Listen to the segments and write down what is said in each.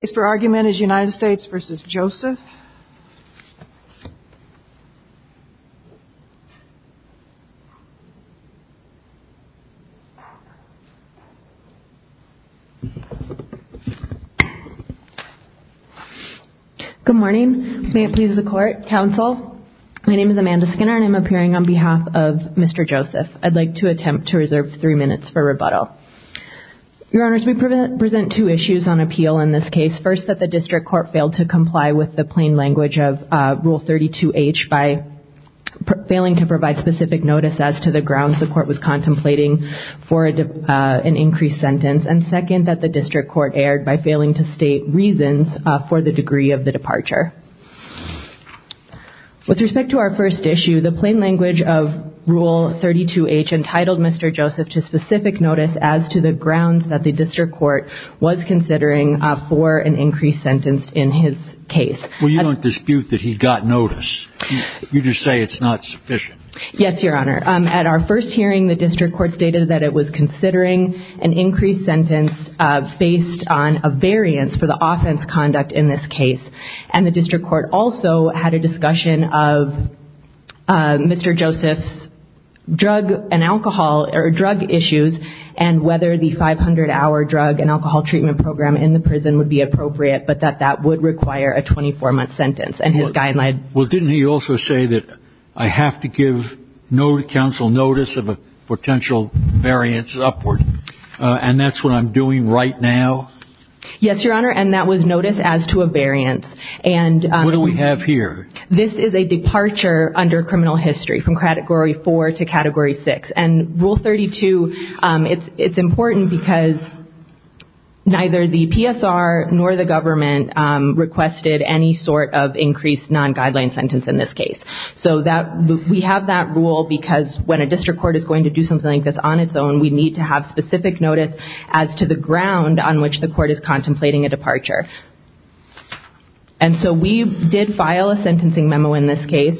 Good morning. May it please the court, counsel. My name is Amanda Skinner and I'm appearing on behalf of Mr. Joseph. I'd like to attempt to reserve three minutes for rebuttal. Your court failed to comply with the plain language of Rule 32H by failing to provide specific notice as to the grounds the court was contemplating for an increased sentence, and second, that the district court erred by failing to state reasons for the degree of the departure. With respect to our first issue, the plain language of Rule 32H entitled Mr. Joseph to specific notice as to the grounds that the district court was considering for an increased sentence in his case. Well, you don't dispute that he got notice. You just say it's not sufficient. Yes, Your Honor. At our first hearing, the district court stated that it was considering an increased sentence based on a variance for the offense conduct in this case, and the district court also had a discussion of Mr. Joseph's drug and alcohol, or drug issues, and whether the 500-hour drug and alcohol treatment program in the prison would be appropriate, but that that would require a 24-month sentence, and his guideline. Well, didn't he also say that I have to give counsel notice of a potential variance upward, and that's what I'm doing right now? Yes, Your Honor, and that was notice as to a variance. And what do we have here? This is a departure under criminal history from Category 4 to Category 6, and Rule 32, it's important because neither the PSR nor the government requested any sort of increased non-guideline sentence in this case. So we have that rule because when a district court is going to do something like this on its own, we need to have specific notice as to the ground on which the court is contemplating a departure. And so we did file a sentencing memo in this case,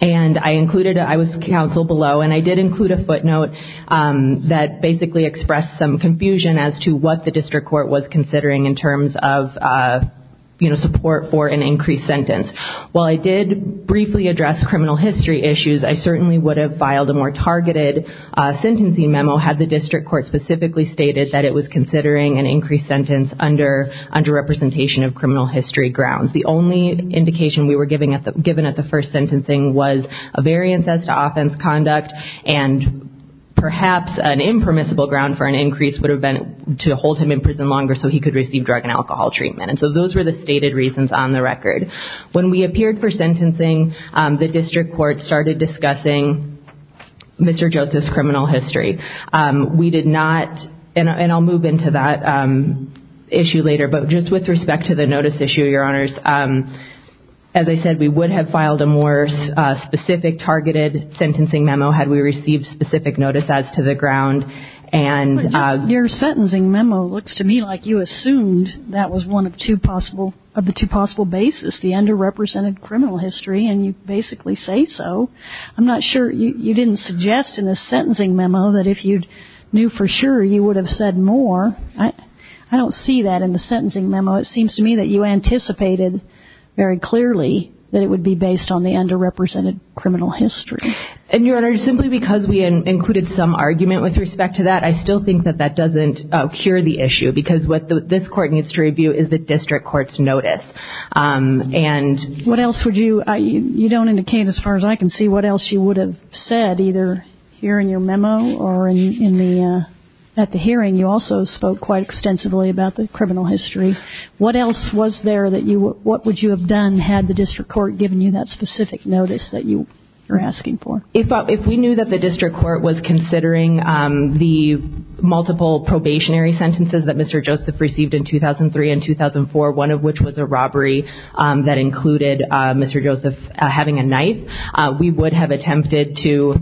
and I included, I was counsel below, and I did include a footnote that basically expressed some confusion as to what the district court was considering in terms of, you know, support for an increased sentence. While I did briefly address criminal history issues, I certainly would have filed a more targeted sentencing memo had the district court specifically stated that it was considering an increased sentence under representation of criminal history grounds. The only indication we were given at the first sentencing was a variance as to offense conduct, and perhaps an impermissible ground for an increase would have been to hold him in prison longer so he could receive drug and alcohol treatment. And so those were the stated reasons on the record. When we appeared for sentencing, the district court did not, and I'll move into that issue later, but just with respect to the notice issue, Your Honors, as I said, we would have filed a more specific targeted sentencing memo had we received specific notice as to the ground and... Your sentencing memo looks to me like you assumed that was one of two possible, of the two possible bases, the underrepresented criminal history, and you basically say so. I'm not sure, you didn't suggest in the sentencing memo that if you knew for sure you would have said more. I don't see that in the sentencing memo. It seems to me that you anticipated very clearly that it would be based on the underrepresented criminal history. And Your Honor, simply because we included some argument with respect to that, I still think that that doesn't cure the issue because what this court needs to review is the district court's notice. And... Perhaps would you, you don't indicate as far as I can see what else you would have said either here in your memo or in the, at the hearing, you also spoke quite extensively about the criminal history. What else was there that you, what would you have done had the district court given you that specific notice that you were asking for? If we knew that the district court was considering the multiple probationary sentences that Mr. which was a robbery that included Mr. Joseph having a knife, we would have attempted to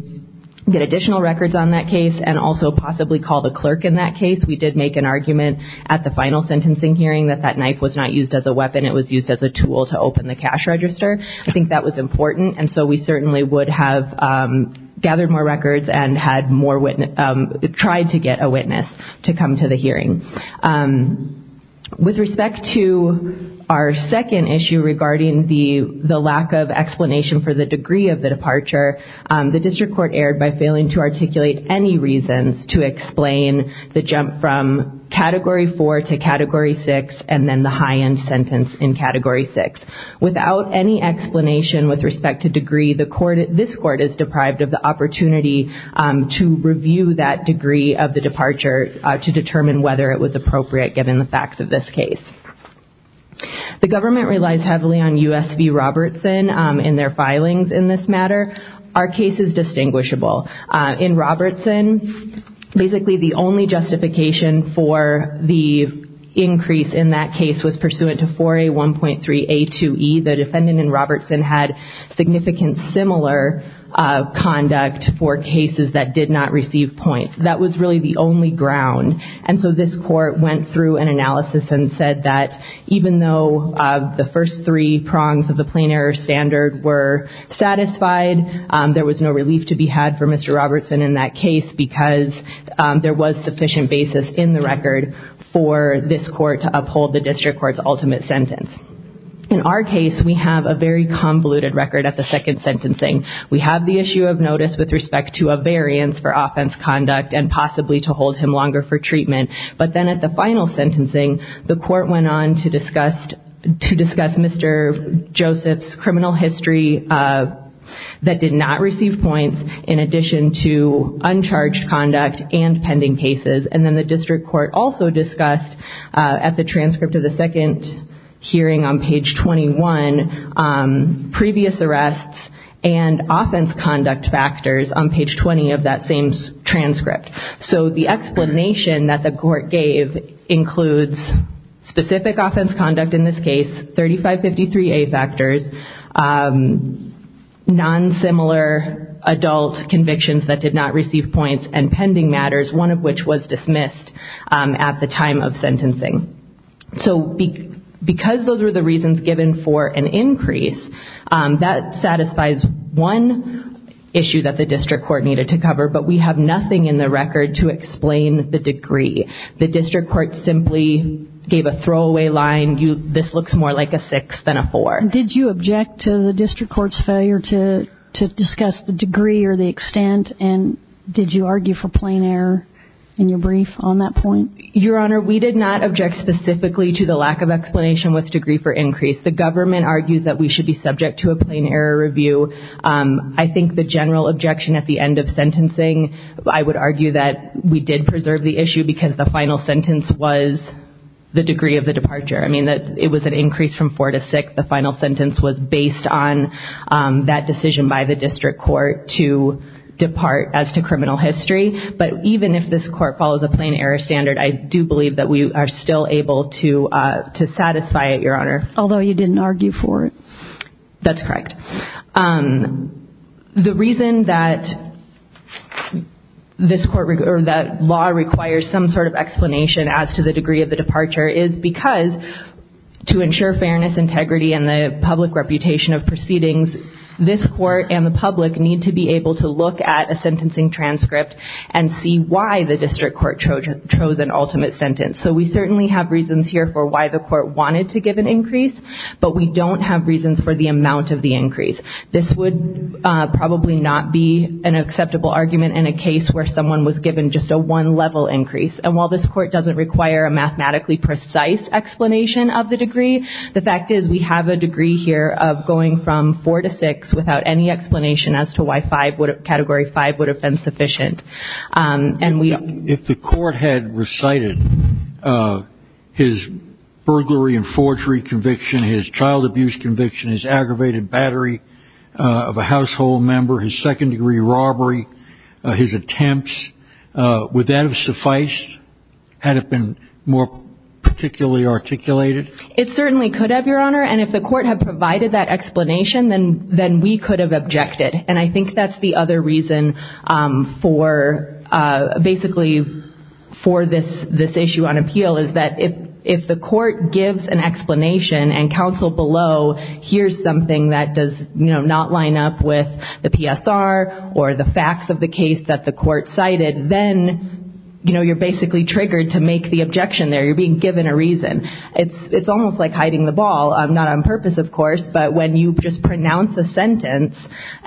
get additional records on that case and also possibly call the clerk in that case. We did make an argument at the final sentencing hearing that that knife was not used as a weapon, it was used as a tool to open the cash register. I think that was important and so we certainly would have gathered more records and had more, tried to get a witness to come to the hearing. With respect to our second issue regarding the lack of explanation for the degree of the departure, the district court erred by failing to articulate any reasons to explain the jump from Category 4 to Category 6 and then the high-end sentence in Category 6. Without any explanation with respect to degree, the court, this court is deprived of the opportunity to review that degree of the departure to determine whether it was appropriate given the facts of this case. The government relies heavily on U.S. v. Robertson in their filings in this matter. Our case is distinguishable. In Robertson, basically the only justification for the increase in that case was pursuant to 4A1.3A2E. The defendant in Robertson had significant similar conduct for cases that did not receive points. That was really the only ground and so this court went through an analysis and said that even though the first three prongs of the plain error standard were satisfied, there was no relief to be had for Mr. Robertson in that case because there was sufficient basis in the record for this court to uphold the district court's ultimate sentence. In our case, we have a very convoluted record at the second sentencing. We have the issue of notice with respect to a variance for offense conduct and possibly to hold him longer for treatment but then at the final sentencing, the court went on to discuss Mr. Joseph's criminal history that did not receive points in addition to uncharged conduct and pending cases. Then the district court also discussed at the transcript of the second hearing on page 21 previous arrests and offense conduct factors on page 20 of that same transcript. The explanation that the court gave includes specific offense conduct in this case, 3553A factors, non-similar adult convictions that did not receive points and pending matters, one of which was dismissed at the time of sentencing. Because those were the reasons given for an increase, that satisfies one issue that the district court needed to cover but we have nothing in the record to explain the degree. The district court simply gave a throwaway line, this looks more like a six than a four. Did you object to the district court's failure to discuss the degree or the extent and did you argue for plain error in your brief on that point? Your Honor, we did not object specifically to the lack of explanation with degree for increase. The government argues that we should be subject to a plain error review. I think the general objection at the end of sentencing, I would argue that we did preserve the issue because the final sentence was the degree of the departure. I mean, it was an increase from four to six. The final sentence was based on that decision by the district court to criminal history. But even if this court follows a plain error standard, I do believe that we are still able to satisfy it, Your Honor. Although you didn't argue for it? That's correct. The reason that this court or that law requires some sort of explanation as to the degree of the departure is because to ensure fairness, integrity, and the public reputation of proceedings, this court and the public need to be able to look at a sentencing transcript and see why the district court chose an ultimate sentence. So we certainly have reasons here for why the court wanted to give an increase, but we don't have reasons for the amount of the increase. This would probably not be an acceptable argument in a case where someone was given just a one level increase. And while this court doesn't require a mathematically precise explanation of the degree, the fact is we have a degree here of going from four to six without any explanation as to why category five would have been sufficient. If the court had recited his burglary and forgery conviction, his child abuse conviction, his aggravated battery of a household member, his second degree robbery, his attempts, would that have sufficed? Had it been more particularly articulated? It certainly could have, Your Honor. And if the court had provided that explanation, then we could have objected. And I think that's the other reason for basically for this issue on appeal is that if the court gives an explanation and counsel below hears something that does not line up with the PSR or the facts of the case that the court cited, then you're basically triggered to make the objection there. You're being given a reason. It's almost like hiding the ball. Not on purpose, of course, but when you just pronounce a sentence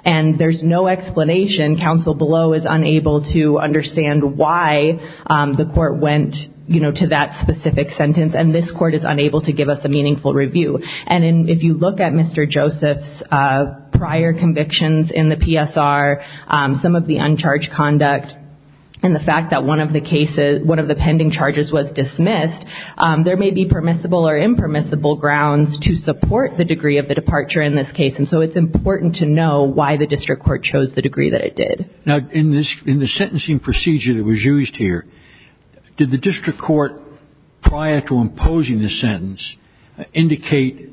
and there's no explanation, counsel below is unable to understand why the court went, you know, to that specific sentence. And this court is unable to give us a meaningful review. And if you look at Mr. Joseph's prior convictions in the PSR, some of the uncharged conduct and the fact that one of the cases, one of the pending charges was dismissed, there may be permissible or impermissible grounds to support the degree of the departure in this case. And so it's important to know why the district court chose the degree that it did. Now, in the sentencing procedure that was used here, did the district court prior to imposing the sentence indicate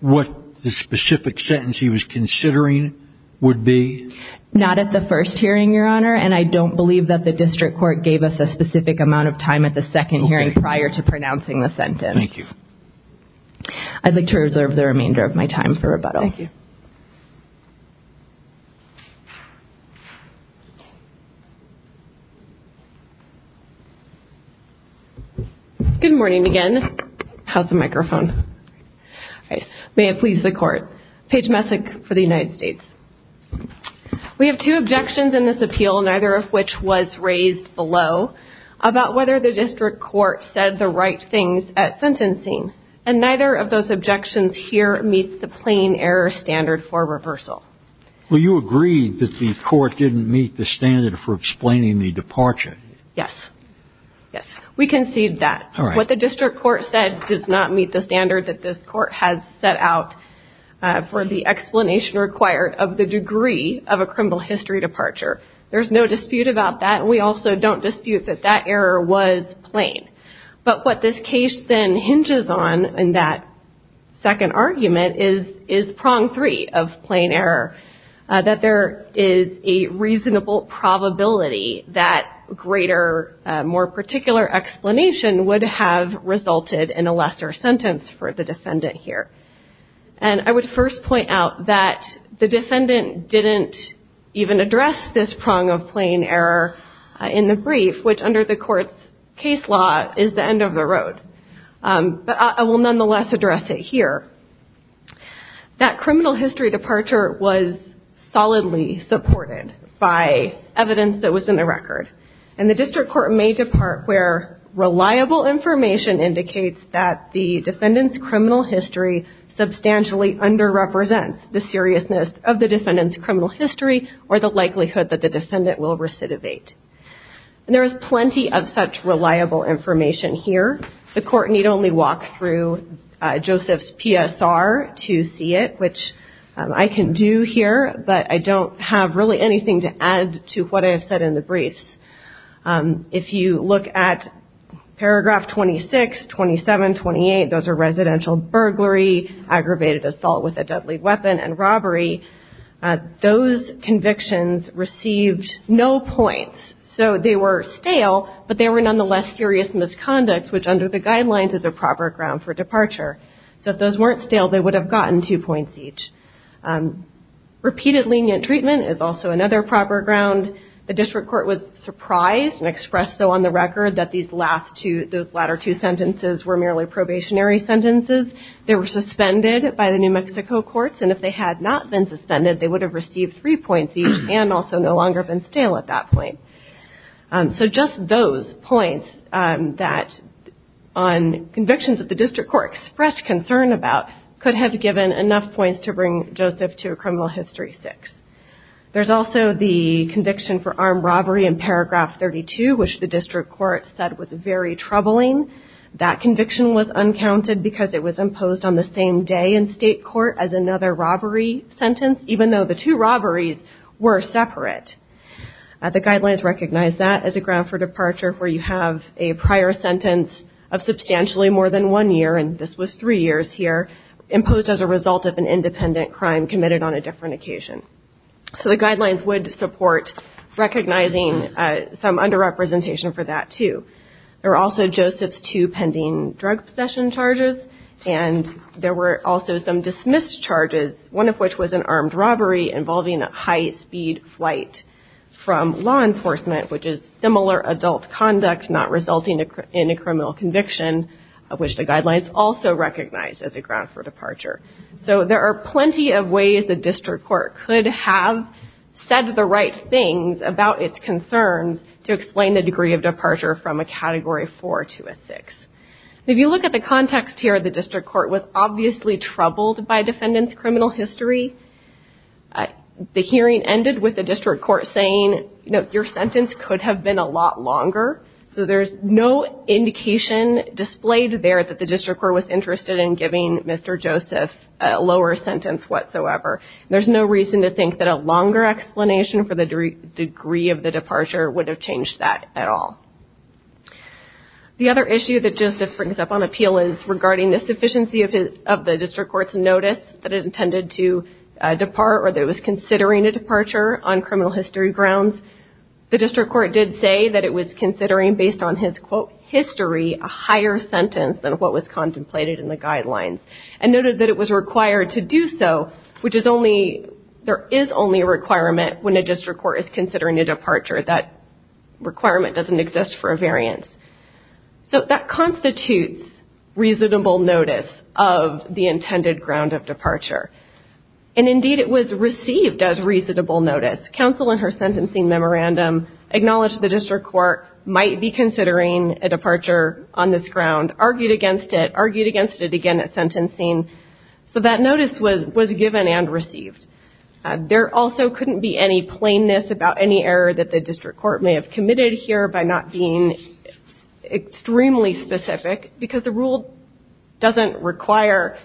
what the specific sentence he was considering would be? Not at the first hearing, Your Honor. And I don't believe that the district court gave us a specific amount of time at the second hearing prior to pronouncing the sentence. Thank you. I'd like to reserve the remainder of my time for rebuttal. Good morning again. How's the microphone? May it please the court. Paige Messick for the Justice Department. Yes, Your Honor. We conceded that. What the district court said does not meet the standard that this court has set out for the explanation required of the degree of a criminal history departure. There's no dispute about that, and we also don't dispute that that error was plain. But what this case then hinges on in that second argument is prong three of plain error, that there is a reasonable probability that greater, more particular explanation would have resulted in a lesser sentence for the defendant here. And I would first point out that the defendant didn't even address this prong of plain error in the brief, which under the court's case law is the end of the road. But I will nonetheless address it here. That criminal history departure was solidly supported by evidence that was in the record, and the district court may depart where reliable information indicates that the defendant's substantially underrepresents the seriousness of the defendant's criminal history or the likelihood that the defendant will recidivate. There is plenty of such reliable information here. The court need only walk through Joseph's PSR to see it, which I can do here, but I don't have really anything to add to what I have said in the briefs. If you look at paragraph 26, 27, 28, those are residential burglary, aggravated assault with a deadly weapon, and robbery. Those convictions received no points. So they were stale, but they were nonetheless serious misconduct, which under the guidelines is a proper ground for departure. So if those weren't stale, they would have gotten two points each. Repeated lenient treatment is also another proper ground. The district court was surprised and expressed so on the record that those latter two sentences were merely probationary sentences. They were suspended by the New Mexico courts, and if they had not been suspended, they would have received three points each and also no longer been stale at that point. So just those points that on convictions that the district court expressed concern about could have given enough points to bring Joseph to a criminal history six. There's also the conviction for armed robbery in paragraph 32, which the district court said was very troubling. That conviction was uncounted because it was imposed on the same day in state court as another robbery sentence, even though the two robberies were separate. The guidelines recognize that as a ground for departure where you have a prior sentence of substantially more than one year, and this was three years here, imposed as a result of an independent crime committed on a different occasion. So the guidelines would support recognizing some underrepresentation for that too. There were also Joseph's two pending drug possession charges, and there were also some dismissed charges, one of which was an armed robbery involving a high-speed flight from law enforcement, which is similar adult conduct not resulting in a criminal conviction, which the guidelines also recognize as a ground for departure. So there are plenty of ways the district court could have said the right things about its concerns to explain the degree of departure from a category four to a six. If you look at the context here, the district court was obviously troubled by defendant's criminal history. The hearing ended with the district court saying, you know, your sentence could have been a lot longer. So there's no indication displayed there that the district court was interested in giving Mr. Joseph a lower sentence whatsoever. There's no reason to think that a longer explanation for the degree of the departure would have changed that at all. The other issue that Joseph brings up on appeal is regarding the sufficiency of the district court's notice that it intended to depart or that it was considering a departure on criminal history grounds. The district court did say that it was considering, based on his, quote, history, a higher sentence than what was contemplated in the guidelines, and noted that it was required to do so, which is only, there is only a requirement when a district court is considering a departure. That requirement doesn't exist for a variance. So that constitutes reasonable notice of the intended ground of departure. And indeed, it was received as reasonable notice. Counsel, in her sentencing memorandum, acknowledged the district court might be considering a departure on this ground, argued against it, argued against it again at sentencing. So that notice was given and received. There also couldn't be any plainness about any error that the district court may have committed here by not being extremely specific, because the rule doesn't require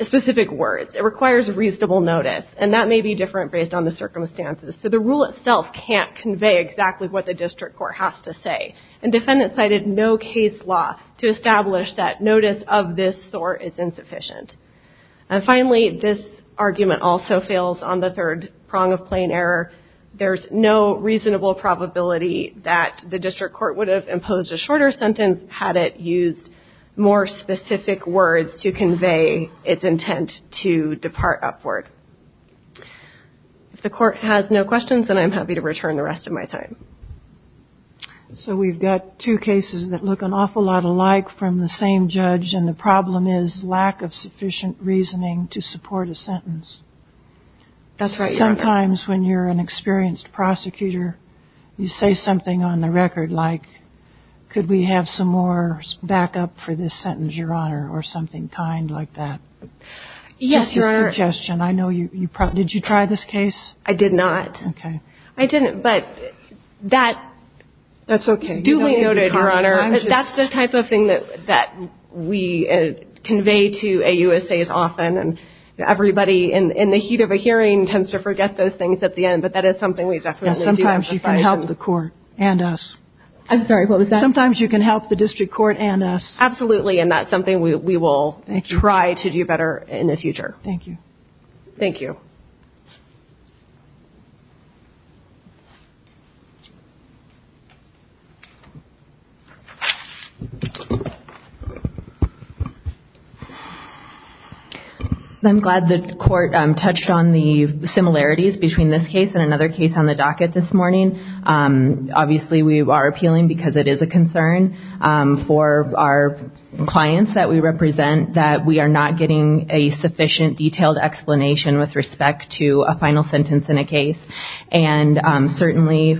specific words. It requires reasonable notice, and that may be different based on the circumstances. So the rule itself can't convey exactly what the district court has to say. And defendants cited no case law to establish that notice of this sort is insufficient. And finally, this argument also fails on the third prong of plain error. There's no reasonable probability that the district court would have imposed a shorter sentence had it used more specific words to convey its intent to depart upward. If the court has no questions, then I'm happy to return the rest of my time. So we've got two cases that look an awful lot alike from the same judge, and the problem is lack of sufficient reasoning to support a sentence. That's right, Your Honor. Sometimes when you're an experienced prosecutor, you say something on the record like, could we have some more backup for this sentence, Your Honor, or something kind like that. Yes, Your Honor. That's a suggestion. I know you probably – did you try this case? I did not. Okay. I didn't, but that – That's okay. Duly noted, Your Honor. That's the type of thing that we convey to AUSAs often, and everybody in the heat of a hearing tends to forget those things at the end, but that is something we definitely need to be able to fight through. Yes, sometimes you can help the court and us. I'm very well with that. Sometimes you can help the district court and us. Absolutely, and that's something we will try to do better in the future. Thank you. Thank you. I'm glad the court touched on the similarities between this case and another case on the docket this morning. Obviously, we are appealing because it is a concern for our clients that we represent that we are not getting a sufficient detailed explanation with respect to a final sentence in a case, and certainly,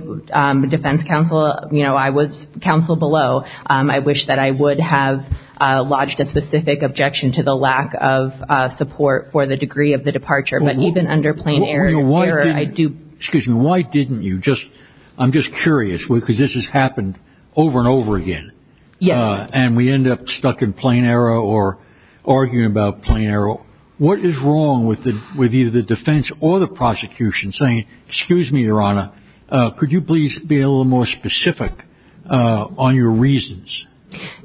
defense counsel – you know, I was counsel below. I wish that I would have lodged a specific objection to the lack of support for the degree of the departure, but even under plain error, I do – I'm just curious, because this has happened over and over again, and we end up stuck in plain error or arguing about plain error. What is wrong with either the defense or the prosecution saying, excuse me, Your Honor, could you please be a little more specific on your reasons?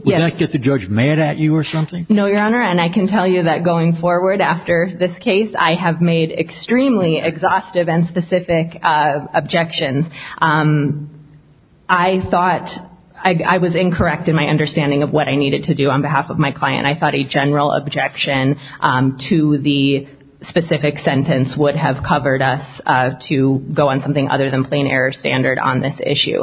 Would that get the judge mad at you or something? No, Your Honor, and I can tell you that going forward after this case, I have made extremely exhaustive and specific objections. I thought – I was incorrect in my understanding of what I needed to do on behalf of my client. I thought a general objection to the specific sentence would have covered us to go on something other than plain error standard on this issue.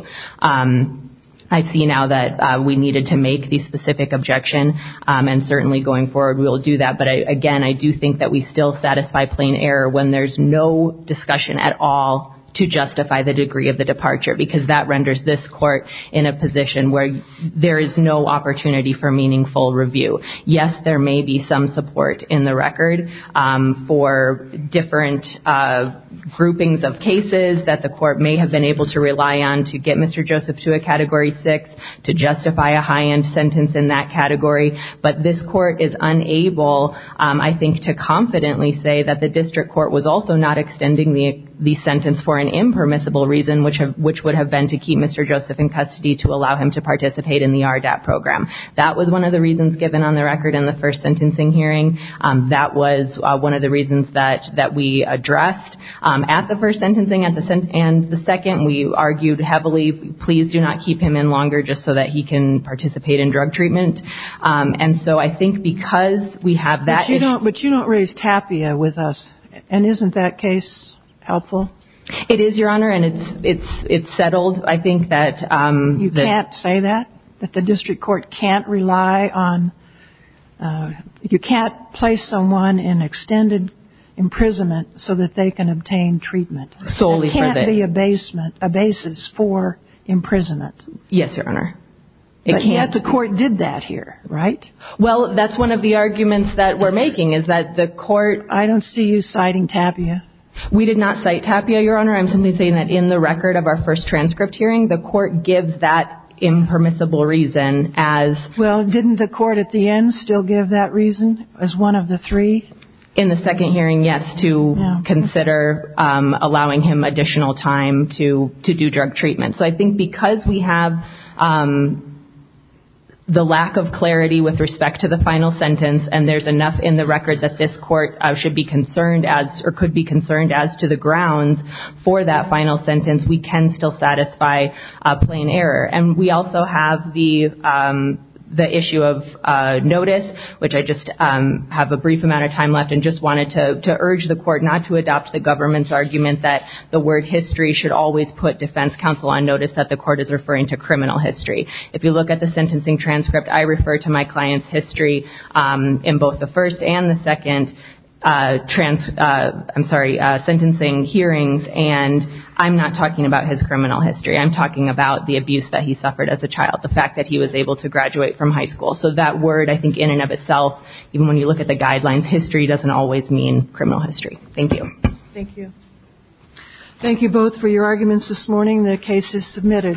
I see now that we needed to make the specific objection, and certainly, going forward, we will do that. But again, I do think that we still satisfy plain error when there's no discussion at all to justify the degree of the departure, because that renders this court in a position where there is no opportunity for meaningful review. Yes, there may be some support in the record for different groupings of cases that the court may have been able to rely on to get Mr. Joseph to a Category 6, to justify a high-end sentence in that category. But this court is unable, I think, to confidently say that the district court was also not extending the sentence for an impermissible reason, which would have been to keep Mr. Joseph in custody to allow him to participate in the RDAP program. That was one of the reasons given on the record in the first sentencing hearing. That was one of the reasons that we addressed. At the first sentencing and the second, we argued heavily, please do not keep him in drug treatment. And so I think because we have that issue. But you don't raise Tapia with us. And isn't that case helpful? It is, Your Honor. And it's settled. I think that... You can't say that? That the district court can't rely on... You can't place someone in extended imprisonment so that they can obtain treatment? Solely for the... There can't be a basis for imprisonment. Yes, Your Honor. But yet the court did that here, right? Well, that's one of the arguments that we're making, is that the court... I don't see you citing Tapia. We did not cite Tapia, Your Honor. I'm simply saying that in the record of our first transcript hearing, the court gives that impermissible reason as... Well, didn't the court at the end still give that reason as one of the three? In the second hearing, yes, to consider allowing him additional time to do drug treatment. So I think because we have the lack of clarity with respect to the final sentence, and there's enough in the record that this court should be concerned as, or could be concerned as to the grounds for that final sentence, we can still satisfy a plain error. And we also have the issue of notice, which I just have a brief amount of time left and just wanted to urge the court not to adopt the government's argument that the word history should always put defense counsel on notice that the court is referring to criminal history. If you look at the sentencing transcript, I refer to my client's history in both the first and the second sentencing hearings, and I'm not talking about his criminal history. I'm talking about the abuse that he suffered as a child, the fact that he was able to graduate from high school. So that word, I think in and of itself, even when you look at the guidelines, history doesn't always mean criminal history. Thank you. Thank you. Thank you both for your arguments this morning. The case is submitted.